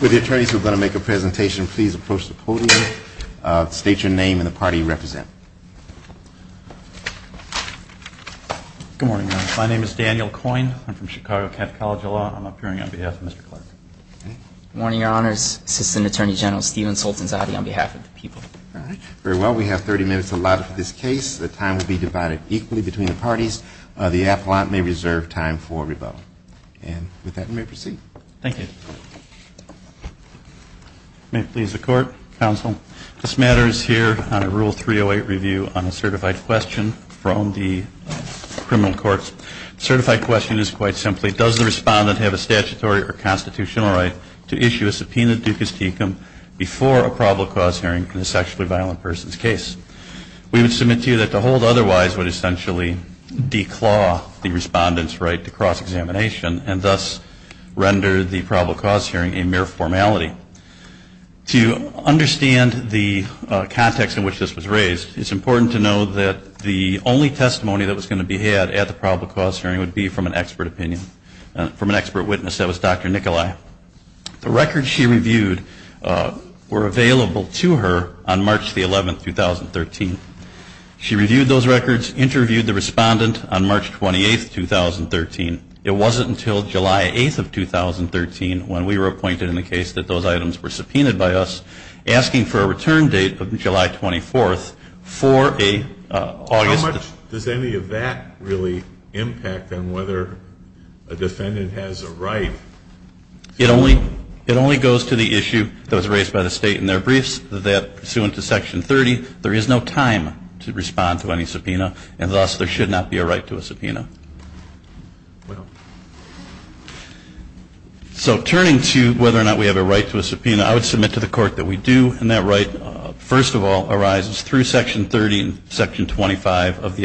With the attorneys who are going to make a presentation, please approach the podium. State your name and the party you represent. Good morning. My name is Daniel Coyne. I'm from Chicago Catholic College of Law. I'm appearing on behalf of Mr. Clark. Good morning, Your Honors. Assistant Attorney General Stephen Soltanzotti on behalf of the people. Very well. We have 30 minutes allotted for this case. The time will be divided equally between the parties. The appellant may reserve time for rebuttal. And with that, you may proceed. Thank you. May it please the Court, Counsel, this matter is here on a Rule 308 review on a certified question from the criminal courts. The certified question is quite simply, does the respondent have a statutory or constitutional right to issue a subpoena ducis tecum before a probable cause hearing in a sexually violent person's case? We would submit to you that to hold otherwise would essentially declaw the respondent's right to cross-examination and thus render the probable cause hearing a mere formality. To understand the context in which this was raised, it's important to know that the only testimony that was going to be had at the probable cause hearing would be from an expert opinion, from an expert witness. That was Dr. Nicolai. The records she reviewed were available to her on March the 11th, 2013. She reviewed those records, interviewed the respondent on March 28th, 2013. It wasn't until July 8th of 2013 when we were appointed in the case that those items were subpoenaed by us, asking for a return date of July 24th for an August How much does any of that really impact on whether a defendant has a right? It only goes to the issue that was raised by the State in their briefs, that pursuant to Section 30, there is no time to respond to any subpoena and thus there should not be a right to a subpoena. So turning to whether or not we have a right to a subpoena, I would submit to the Court that we do and that right first of all arises through Section 30 and Section 25 of the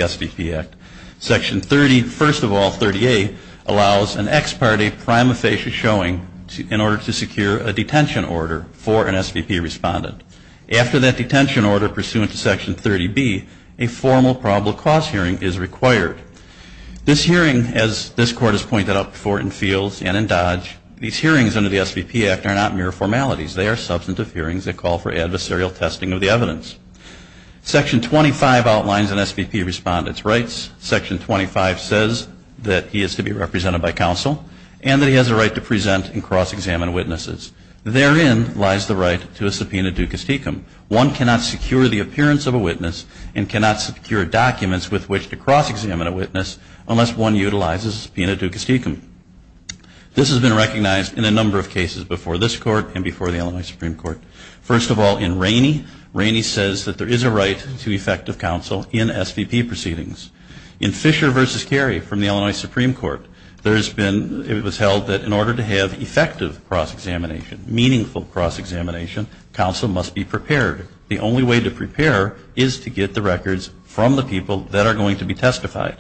in order to secure a detention order for an SVP respondent. After that detention order, pursuant to Section 30B, a formal probable cause hearing is required. This hearing, as this Court has pointed out before in Fields and in Dodge, these hearings under the SVP Act are not mere formalities. They are substantive hearings that call for adversarial Therein lies the right to a subpoena ducis tecum. One cannot secure the appearance of a witness and cannot secure documents with which to cross-examine a witness unless one utilizes a subpoena ducis tecum. This has been recognized in a number of cases before this Court and before the Illinois Supreme Court. First of all, in Rainey, Rainey says that there is a right to effective counsel in SVP proceedings. In Fisher v. Carey from the Illinois Supreme Court, it was held that in order to have effective cross-examination, meaningful cross-examination, counsel must be prepared. The only way to prepare is to get the records from the people that are going to be testified.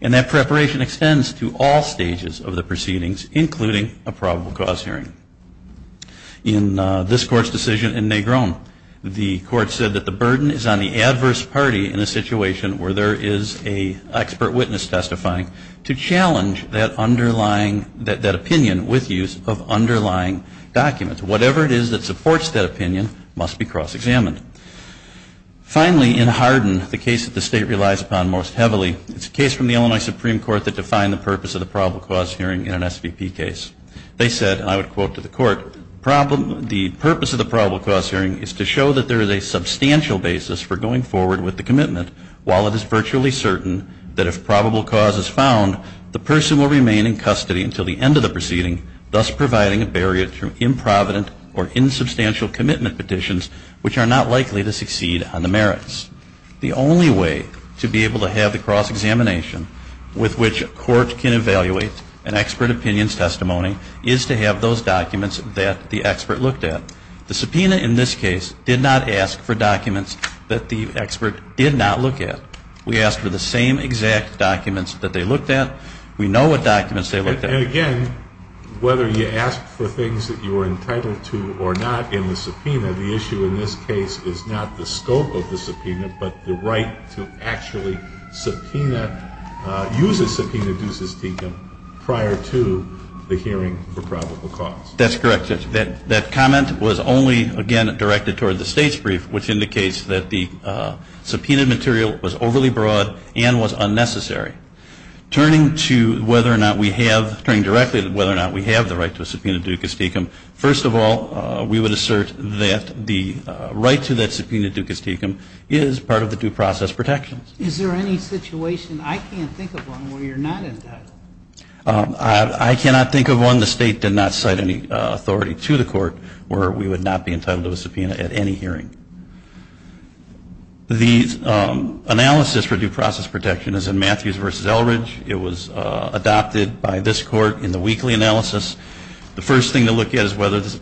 And that preparation extends to all stages of the proceedings, including a probable cause hearing. In this Court's decision in Negron, the Court said that the burden is on the adverse party in a situation where there is an expert witness testifying to challenge that underlying, that opinion with use of underlying documents. Whatever it is that supports that opinion must be cross-examined. Finally, in Hardin, the case that the State relies upon most heavily, it's a case from the Illinois Supreme Court that defined the purpose of the probable cause hearing in an SVP case. They said, and I would quote to the Court, the purpose of the probable cause hearing is to show that there is a substantial basis for going forward with the commitment while it is virtually certain that if probable cause is found, the person will remain in custody until the proceeding, thus providing a barrier to improvident or insubstantial commitment petitions which are not likely to succeed on the merits. The only way to be able to have the cross-examination with which a court can evaluate an expert opinion's testimony is to have those documents that the expert looked at. The subpoena in this case did not ask for documents that the expert did not look at. We asked for the same exact documents that they looked at. We know what documents they looked at. And again, whether you asked for things that you were entitled to or not in the subpoena, the issue in this case is not the scope of the subpoena, but the right to actually subpoena, use a subpoena deus ex decum prior to the hearing for probable cause. That's correct, Judge. That comment was only, again, directed toward the State's brief, which indicates that the subpoena material was overly broad and was I'm not wondering directly whether or not we have the right to a subpoena deus ex decum. First of all, we would assert that the right to that subpoena deus ex decum is part of the due process protections. Is there any situation, I can't think of one, where you're not entitled? I cannot think of one. The State did not cite any authority to the Court where we would not be entitled to a subpoena at any hearing. The analysis for due process protection is in Matthews v. Eldridge. It was adopted by this Court in the weekly analysis. The first thing to look at is whether there's a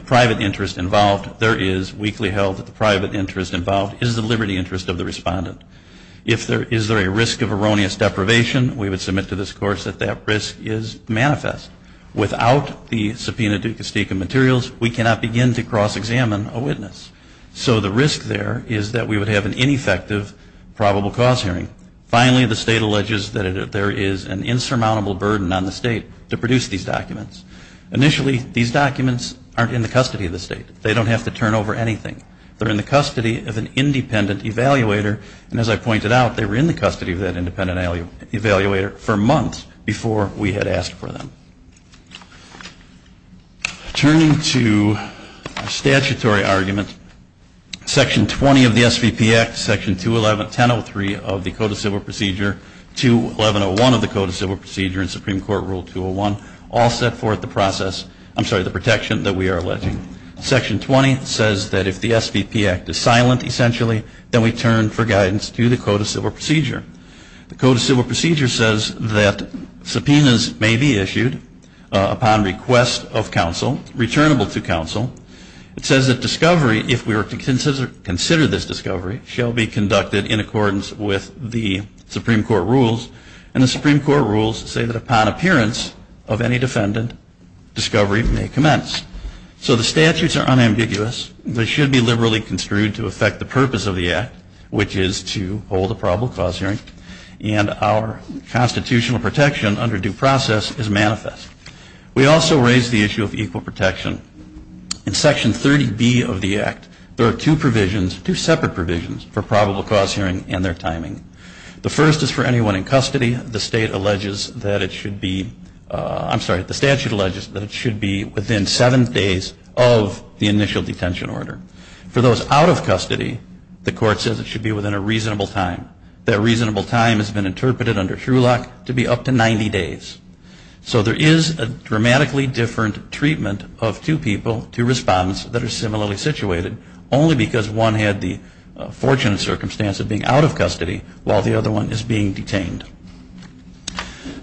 private interest involved. There is weekly held that the private interest involved is the liberty interest of the respondent. If there is a risk of erroneous deprivation, we would submit to this Court that that risk is manifest. Without the subpoena deus ex decum materials, we cannot begin to cross-examine a witness. So the risk there is that we would have an ineffective probable cause hearing. Finally, the State alleges that there is an insurmountable burden on the State to produce these documents. Initially, these documents aren't in the custody of the State. They don't have to turn over anything. They're in the custody of an independent evaluator, and as I pointed out, they were in the custody of that independent evaluator for months before we had asked for them. Turning to statutory arguments, Section 20 of the SVP Act, Section 211, 1003 of the Code of Civil Procedure, 211.01 of the Code of Civil Procedure and Supreme Court Rule 201 all set forth the process, I'm sorry, the protection that we are alleging. Section 20 says that if the SVP Act is silent, essentially, then we turn for guidance to the Code of Civil Procedure. The Code of Civil Procedure says that subpoenas may be issued upon request of counsel, returnable to counsel. It says that discovery, if we are to consider this discovery, shall be conducted in accordance with the Supreme Court rules, and the Supreme Court rules say that upon appearance of any defendant, discovery may commence. So the statutes are unambiguous. They should be liberally construed to affect the purpose of the Act, which is to hold a probable cause hearing, and our constitutional protection under due process is manifest. We also raise the issue of equal protection. In Section 30B of the Act, there are two provisions, two separate provisions, for probable cause hearing and their timing. The first is for anyone in custody. The state alleges that it should be, I'm sorry, the statute alleges that it should be within seven days of the initial detention order. For those out of custody, the court says it should be within a reasonable time. That reasonable time has been interpreted under Shulock to be up to 90 days. So there is a dramatically different treatment of two people, two respondents that are similarly situated, only because one had the fortunate circumstance of being out of custody while the other one is being detained.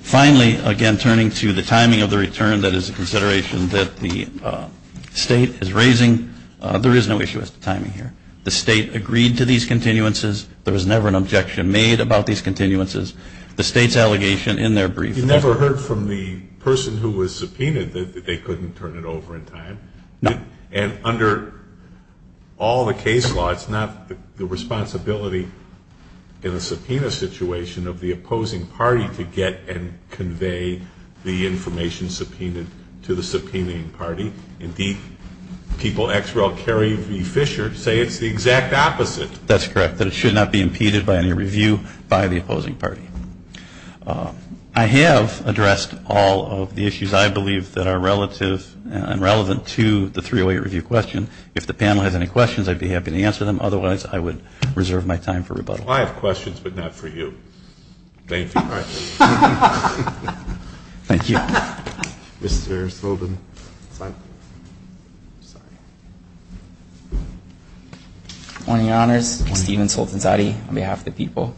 Finally, again, turning to the timing of the return, that is a consideration that the State is raising. There is no issue with timing here. The State agreed to these continuances. There was never an objection made about these continuances. The State's allegation in their brief. You never heard from the person who was subpoenaed that they couldn't turn it over in time? No. And under all the case law, it's not the responsibility in a subpoena situation of the opposing party to get and convey the information subpoenaed to the subpoenaing party. Indeed, people ex rel. Carrie v. Fisher say it's the exact opposite. That's correct, that it should not be impeded by any review by the opposing party. I have addressed all of the issues I believe that are relative and relevant to the 308 review question. If the panel has any questions, I'd be happy to answer them. Otherwise, I would reserve my time for rebuttal. I have questions, but not for you. Thank you. Thank you. Mr. Sultanzadeh. Good morning, Your Honors. Stephen Sultanzadeh on behalf of the people.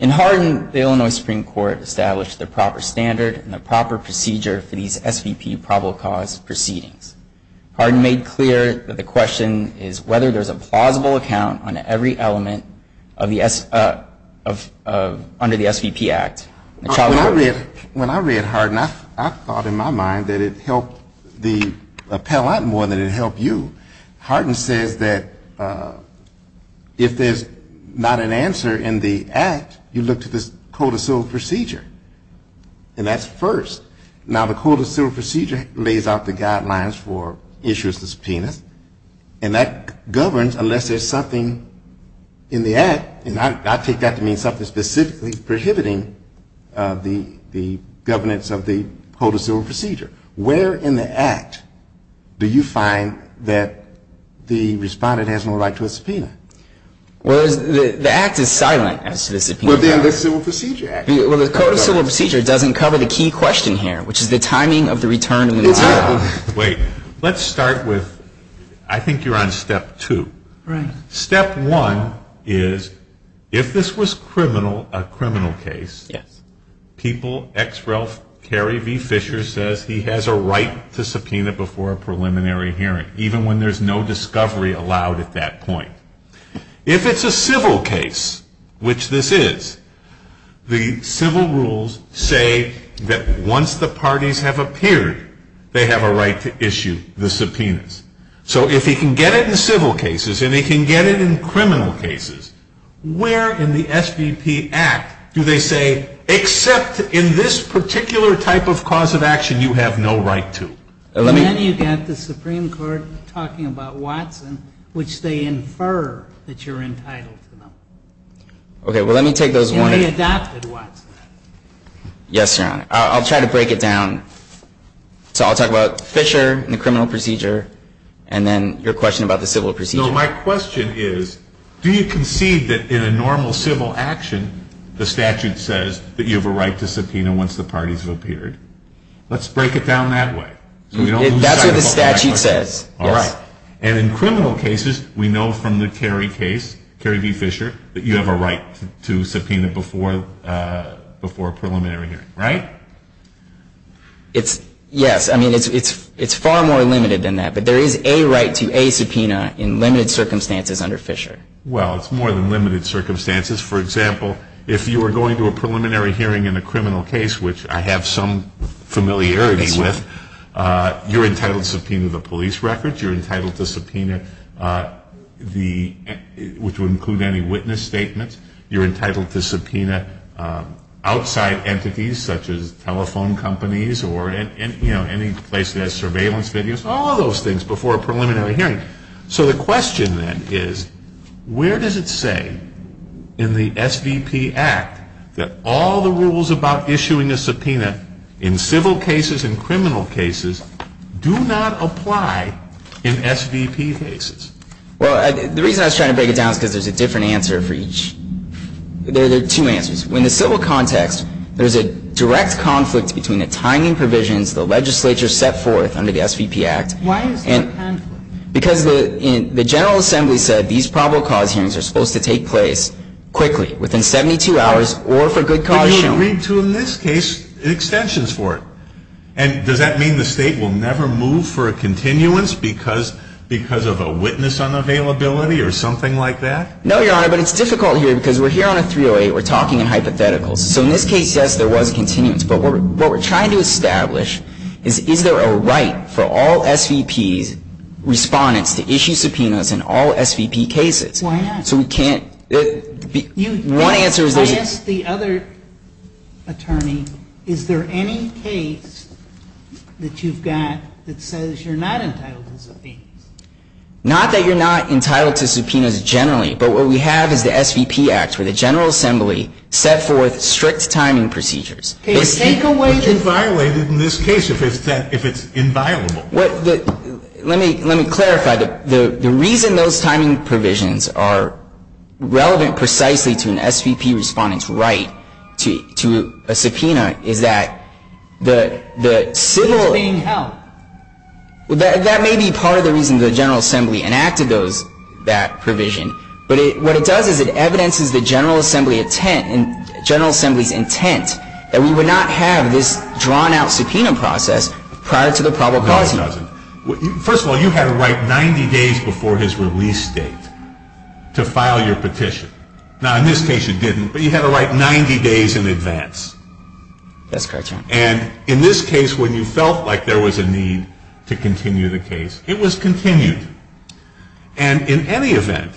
In Hardin, the Illinois Supreme Court established the proper standard and the proper procedure for these SVP probable cause proceedings. Hardin made clear that the question is whether there's a plausible account on every element under the SVP Act. When I read Hardin, I thought in my mind that it helped the appellant more than it helped you. Hardin says that if there's not an answer in the Act, you look to this codicil procedure, and that's first. Now, the codicil procedure lays out the guidelines for issuance of subpoenas, and that governs unless there's something in the Act. And I take that to mean something specifically prohibiting the governance of the codicil procedure. Where in the Act do you find that the respondent has no right to a subpoena? Well, the Act is silent as to the subpoena. Well, then the civil procedure Act. Well, the codicil procedure doesn't cover the key question here, which is the timing of the return of the subpoena. Wait. Let's start with, I think you're on step two. Right. Step one is if this was criminal, a criminal case. Yes. People X Ralph Carey v. Fisher says he has a right to subpoena before a preliminary hearing, even when there's no discovery allowed at that point. If it's a civil case, which this is, the civil rules say that once the parties have appeared, they have a right to issue the subpoenas. So if he can get it in civil cases and he can get it in criminal cases, where in the SBP Act do they say, except in this particular type of cause of action, you have no right to? And then you've got the Supreme Court talking about Watson, which they infer that you're entitled to them. Okay. Well, let me take those one. And they adopted Watson. Yes, Your Honor. I'll try to break it down. So I'll talk about Fisher and the criminal procedure, and then your question about the civil procedure. No, my question is, do you concede that in a normal civil action, the statute says that you have a right to subpoena once the parties have appeared? Let's break it down that way. That's what the statute says. All right. And in criminal cases, we know from the Carey case, Carey v. Fisher, that you have a right to subpoena before a preliminary hearing, right? Yes. I mean, it's far more limited than that. But there is a right to a subpoena in limited circumstances under Fisher. Well, it's more than limited circumstances. For example, if you were going to a preliminary hearing in a criminal case, which I have some familiarity with, you're entitled to subpoena the police records. You're entitled to subpoena the, which would include any witness statements. You're entitled to subpoena outside entities, such as telephone companies or, you know, any place that has surveillance videos, all of those things before a preliminary hearing. So the question then is, where does it say in the SVP Act that all the rules about issuing a subpoena in civil cases and criminal cases do not apply in SVP cases? Well, the reason I was trying to break it down is because there's a different answer for each. There are two answers. In the civil context, there's a direct conflict between the timing provisions the legislature set forth under the SVP Act. Why is there a conflict? Because the General Assembly said these probable cause hearings are supposed to take place quickly, within 72 hours, or for good cause shown. And they agreed to, in this case, extensions for it. And does that mean the State will never move for a continuance because of a witness unavailability or something like that? No, Your Honor, but it's difficult here because we're here on a 308. We're talking in hypotheticals. So in this case, yes, there was a continuance. But what we're trying to establish is, is there a right for all SVPs, respondents, to issue subpoenas in all SVP cases? Why not? So we can't. One answer is that you I asked the other attorney, is there any case that you've got that says you're not entitled to subpoenas? Not that you're not entitled to subpoenas generally. But what we have is the SVP Act, where the General Assembly set forth strict timing procedures. But take away the But you violated in this case if it's inviolable. Let me clarify. The reason those timing provisions are relevant precisely to an SVP respondent's right to a subpoena is that the civil It's being held. That may be part of the reason the General Assembly enacted that provision. But what it does is it evidences the General Assembly's intent that we would not have this drawn-out subpoena process prior to the probable cause notice. First of all, you had a right 90 days before his release date to file your petition. Now, in this case, you didn't, but you had a right 90 days in advance. That's correct, Your Honor. And in this case, when you felt like there was a need to continue the case, it was continued. And in any event,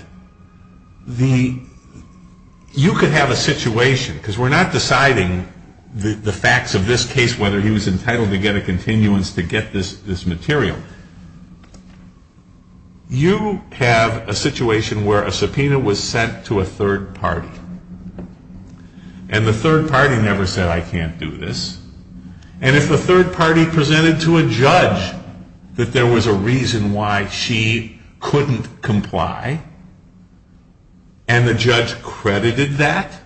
you could have a situation, because we're not deciding the facts of this case, whether he was entitled to get a continuance to get this material. You have a situation where a subpoena was sent to a third party. And the third party never said, I can't do this. And if the third party presented to a judge that there was a reason why she couldn't comply, and the judge credited that,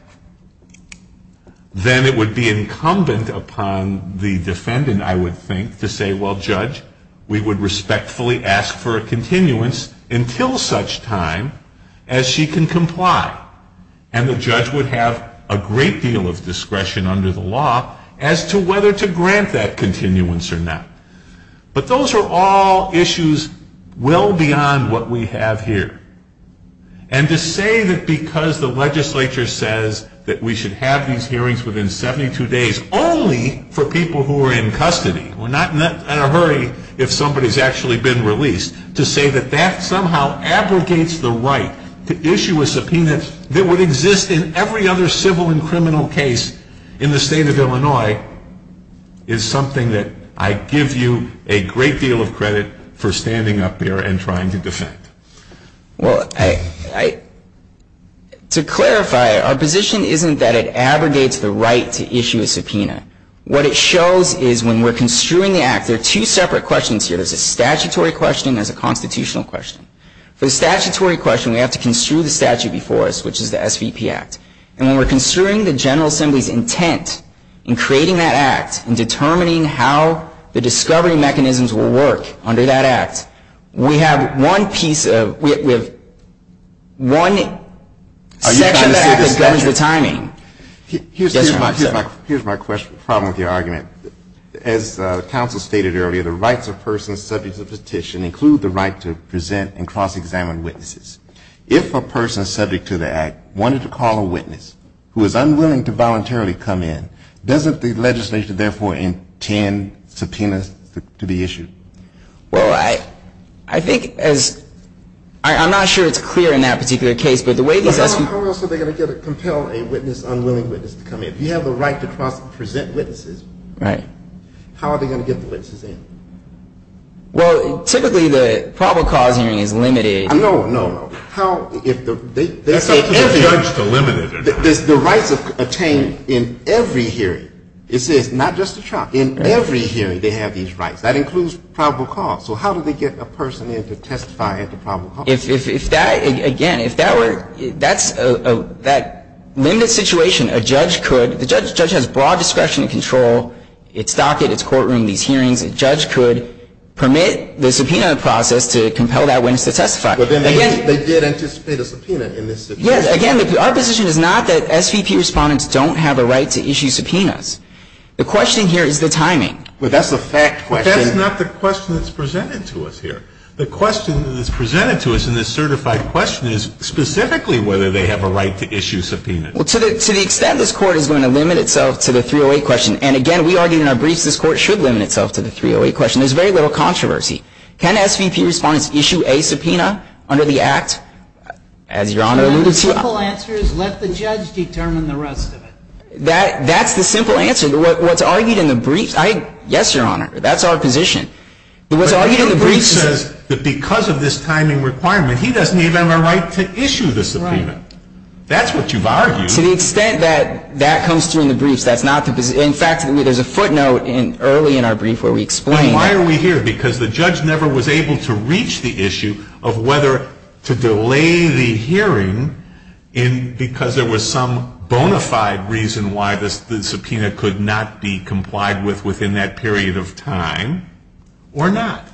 then it would be incumbent upon the defendant, I would think, to say, well, Judge, we would respectfully ask for a continuance until such time as she can comply. And the judge would have a great deal of discretion under the law as to whether to grant that continuance or not. But those are all issues well beyond what we have here. And to say that because the legislature says that we should have these hearings within 72 days only for people who are in custody, we're not in a hurry if somebody's actually been released, to say that that somehow abrogates the right to issue a subpoena that would exist in every other civil and criminal case in the state of Illinois, is something that I give you a great deal of credit for standing up here and trying to defend. Well, to clarify, our position isn't that it abrogates the right to issue a subpoena. What it shows is when we're construing the act, there are two separate questions here. There's a statutory question and there's a constitutional question. For the statutory question, we have to construe the statute before us, which is the SVP Act. And when we're construing the General Assembly's intent in creating that act and determining how the discovery mechanisms will work under that act, we have one section of the act that governs the timing. Here's my problem with your argument. As counsel stated earlier, the rights of persons subject to the petition include the right to present and cross-examine witnesses. If a person subject to the act wanted to call a witness who was unwilling to voluntarily come in, doesn't the legislature therefore intend subpoenas to be issued? Well, I think as – I'm not sure it's clear in that particular case, but the way these – How else are they going to compel a witness, an unwilling witness to come in? If you have the right to present witnesses, how are they going to get the witnesses in? Well, typically the probable cause hearing is limited. No, no, no. How – if the – That's up to the judge to limit it. The rights attained in every hearing, it says, not just the trial. In every hearing they have these rights. That includes probable cause. So how do they get a person in to testify at the probable cause? If that – again, if that were – that's a – that limited situation, a judge could – the judge has broad discretion and control. It's docket, it's courtroom, these hearings. A judge could permit the subpoena process to compel that witness to testify. But then they did anticipate a subpoena in this subpoena. Yes, again, our position is not that SVP respondents don't have a right to issue subpoenas. The question here is the timing. But that's the fact question. But that's not the question that's presented to us here. The question that's presented to us in this certified question is specifically whether they have a right to issue subpoenas. Well, to the extent this Court is going to limit itself to the 308 question, and again, we argue in our briefs this Court should limit itself to the 308 question, there's very little controversy. Can SVP respondents issue a subpoena under the Act, as Your Honor alluded to? The simple answer is let the judge determine the rest of it. That's the simple answer. What's argued in the briefs – yes, Your Honor, that's our position. But your brief says that because of this timing requirement, he doesn't even have a right to issue the subpoena. Right. That's what you've argued. To the extent that that comes through in the briefs, that's not the position. In fact, there's a footnote early in our brief where we explain – But why are we here? Because the judge never was able to reach the issue of whether to delay the hearing because there was some bona fide reason why the subpoena could not be complied with within that period of time. Or not.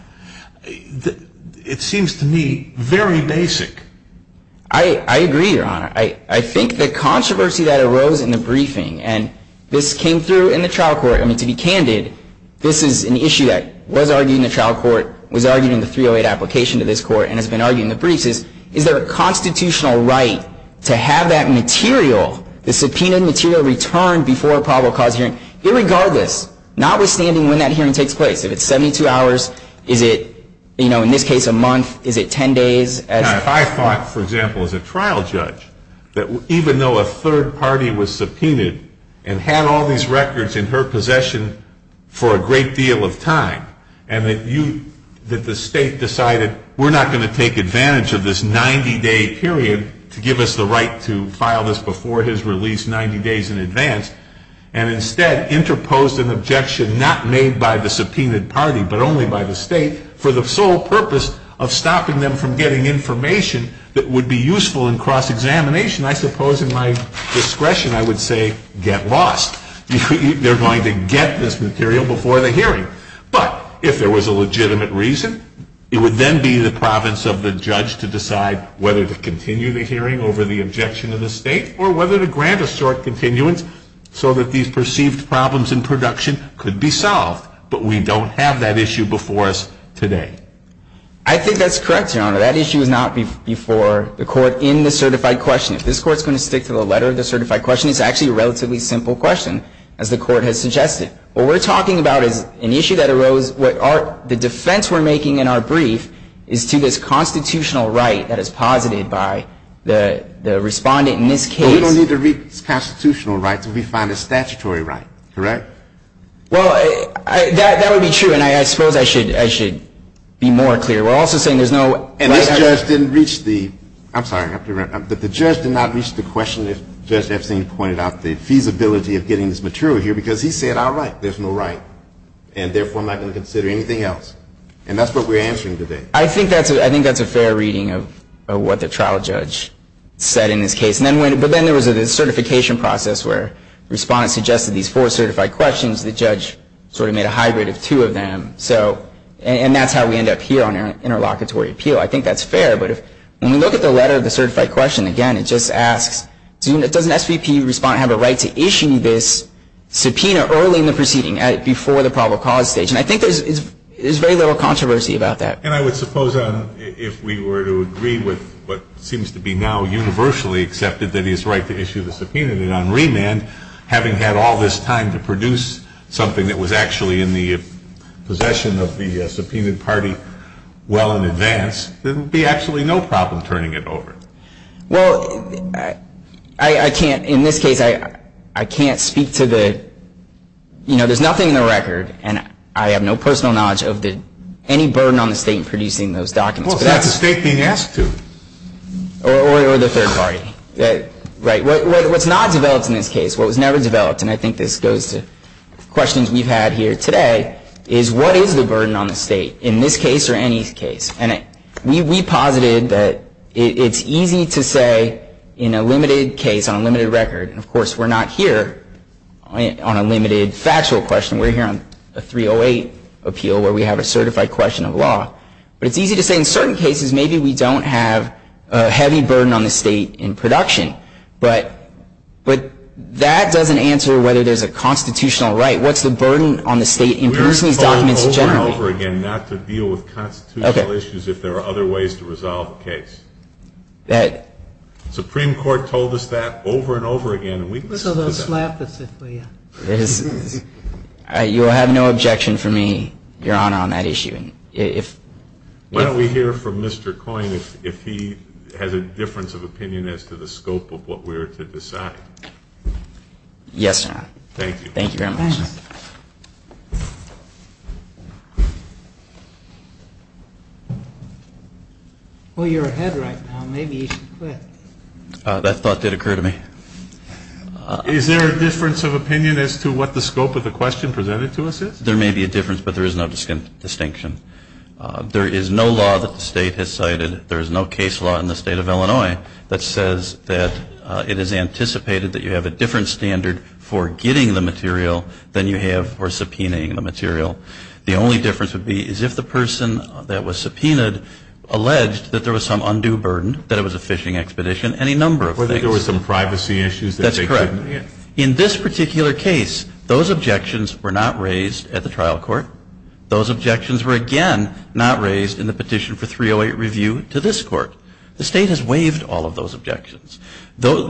It seems to me very basic. I agree, Your Honor. I think the controversy that arose in the briefing, and this came through in the trial court – I mean, to be candid, this is an issue that was argued in the trial court, was argued in the 308 application to this Court, and has been argued in the briefs is, is there a constitutional right to have that material, the subpoenaed material returned before a probable cause hearing, irregardless, notwithstanding when that hearing takes place? If it's 72 hours, is it, you know, in this case a month, is it 10 days? If I thought, for example, as a trial judge, that even though a third party was subpoenaed and had all these records in her possession for a great deal of time, and that you – that the State decided we're not going to take advantage of this 90-day period to give us the right to file this before his release 90 days in advance, and instead interposed an objection not made by the subpoenaed party, but only by the State, for the sole purpose of stopping them from getting information that would be useful in cross-examination, I suppose in my discretion I would say, get lost. They're going to get this material before the hearing. But if there was a legitimate reason, it would then be the province of the judge to decide whether to continue the hearing over the objection of the State, or whether to grant a short continuance so that these perceived problems in production could be solved. But we don't have that issue before us today. I think that's correct, Your Honor. That issue is not before the Court in the certified question. If this Court's going to stick to the letter of the certified question, it's actually a relatively simple question, as the Court has suggested. What we're talking about is an issue that arose – the defense we're making in our brief is to this constitutional right that is posited by the respondent in this case. But we don't need to reach constitutional rights if we find a statutory right, correct? Well, that would be true, and I suppose I should be more clear. We're also saying there's no – And this judge didn't reach the – I'm sorry, I have to – but the judge did not reach the question, as Judge Epstein pointed out, the feasibility of getting this material here, because he said, all right, there's no right, and therefore I'm not going to consider anything else. And that's what we're answering today. I think that's a fair reading of what the trial judge said in this case. But then there was a certification process where the respondent suggested these four certified questions. The judge sort of made a hybrid of two of them. And that's how we end up here on our interlocutory appeal. I think that's fair. But when we look at the letter of the certified question, again, it just asks, does an SVP respondent have a right to issue this subpoena early in the proceeding, before the probable cause stage? And I think there's very little controversy about that. And I would suppose, if we were to agree with what seems to be now universally accepted, that he has a right to issue the subpoena, then on remand, having had all this time to produce something that was actually in the possession of the subpoenaed party well in advance, there would be absolutely no problem turning it over. Well, I can't – in this case, I can't speak to the – you know, there's nothing in the record. And I have no personal knowledge of any burden on the State in producing those documents. Well, it's not the State being asked to. Or the third party. Right. What's not developed in this case, what was never developed, and I think this goes to questions we've had here today, is what is the burden on the State in this case or any case? And we posited that it's easy to say in a limited case, on a limited record, and, of course, we're not here on a limited factual question. We're here on a 308 appeal where we have a certified question of law. But it's easy to say in certain cases maybe we don't have a heavy burden on the State in production. But that doesn't answer whether there's a constitutional right. What's the burden on the State in producing these documents generally? We are told over and over again not to deal with constitutional issues if there are other ways to resolve a case. The Supreme Court told us that over and over again. What's all the slap that's there for you? You will have no objection from me, Your Honor, on that issue. Why don't we hear from Mr. Coyne if he has a difference of opinion as to the scope of what we're to decide. Yes, sir. Thank you. Thank you very much. Well, you're ahead right now. Maybe you should quit. That thought did occur to me. Is there a difference of opinion as to what the scope of the question presented to us is? There may be a difference, but there is no distinction. There is no law that the State has cited. There is no case law in the State of Illinois that says that it is anticipated that you have a different standard for getting the material than you have for subpoenaing the material. The only difference would be is if the person that was subpoenaed alleged that there was some undue burden, that it was a fishing expedition, any number of things. There was some privacy issues. That's correct. In this particular case, those objections were not raised at the trial court. Those objections were, again, not raised in the petition for 308 review to this court. The State has waived all of those objections. The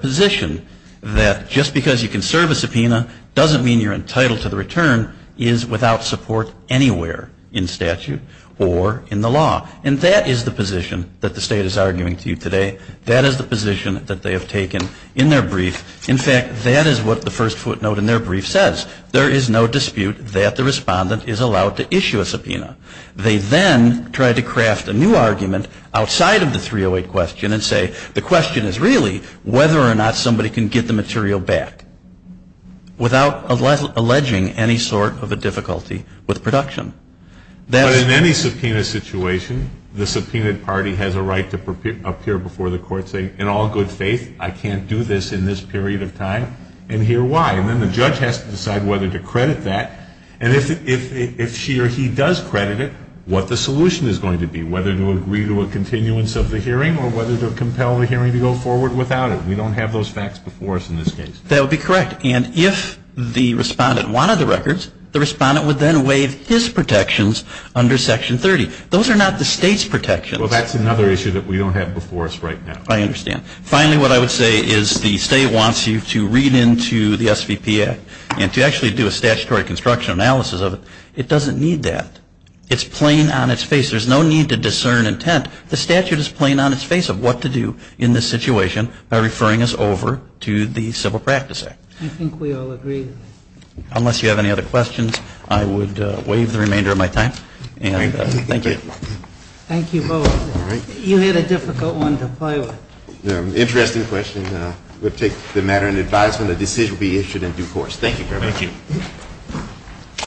position that just because you can serve a subpoena doesn't mean you're entitled to the return is without support anywhere in statute or in the law. And that is the position that the State is arguing to you today. That is the position that they have taken in their brief. In fact, that is what the first footnote in their brief says. There is no dispute that the respondent is allowed to issue a subpoena. They then try to craft a new argument outside of the 308 question and say the question is really whether or not somebody can get the material back without alleging any sort of a difficulty with production. But in any subpoena situation, the subpoenaed party has a right to appear before the court saying, in all good faith, I can't do this in this period of time, and here why. And then the judge has to decide whether to credit that. And if she or he does credit it, what the solution is going to be, whether to agree to a continuance of the hearing or whether to compel the hearing to go forward without it. We don't have those facts before us in this case. That would be correct. And if the respondent wanted the records, the respondent would then waive his protections under Section 30. Those are not the state's protections. Well, that's another issue that we don't have before us right now. I understand. Finally, what I would say is the state wants you to read into the SVP Act and to actually do a statutory construction analysis of it. It doesn't need that. It's plain on its face. There's no need to discern intent. The statute is plain on its face of what to do in this situation by referring us over to the Civil Practice Act. I think we all agree. Unless you have any other questions, I would waive the remainder of my time. And thank you. Thank you both. You had a difficult one to play with. Interesting question. We'll take the matter in advisement. A decision will be issued in due course. Thank you very much. Thank you.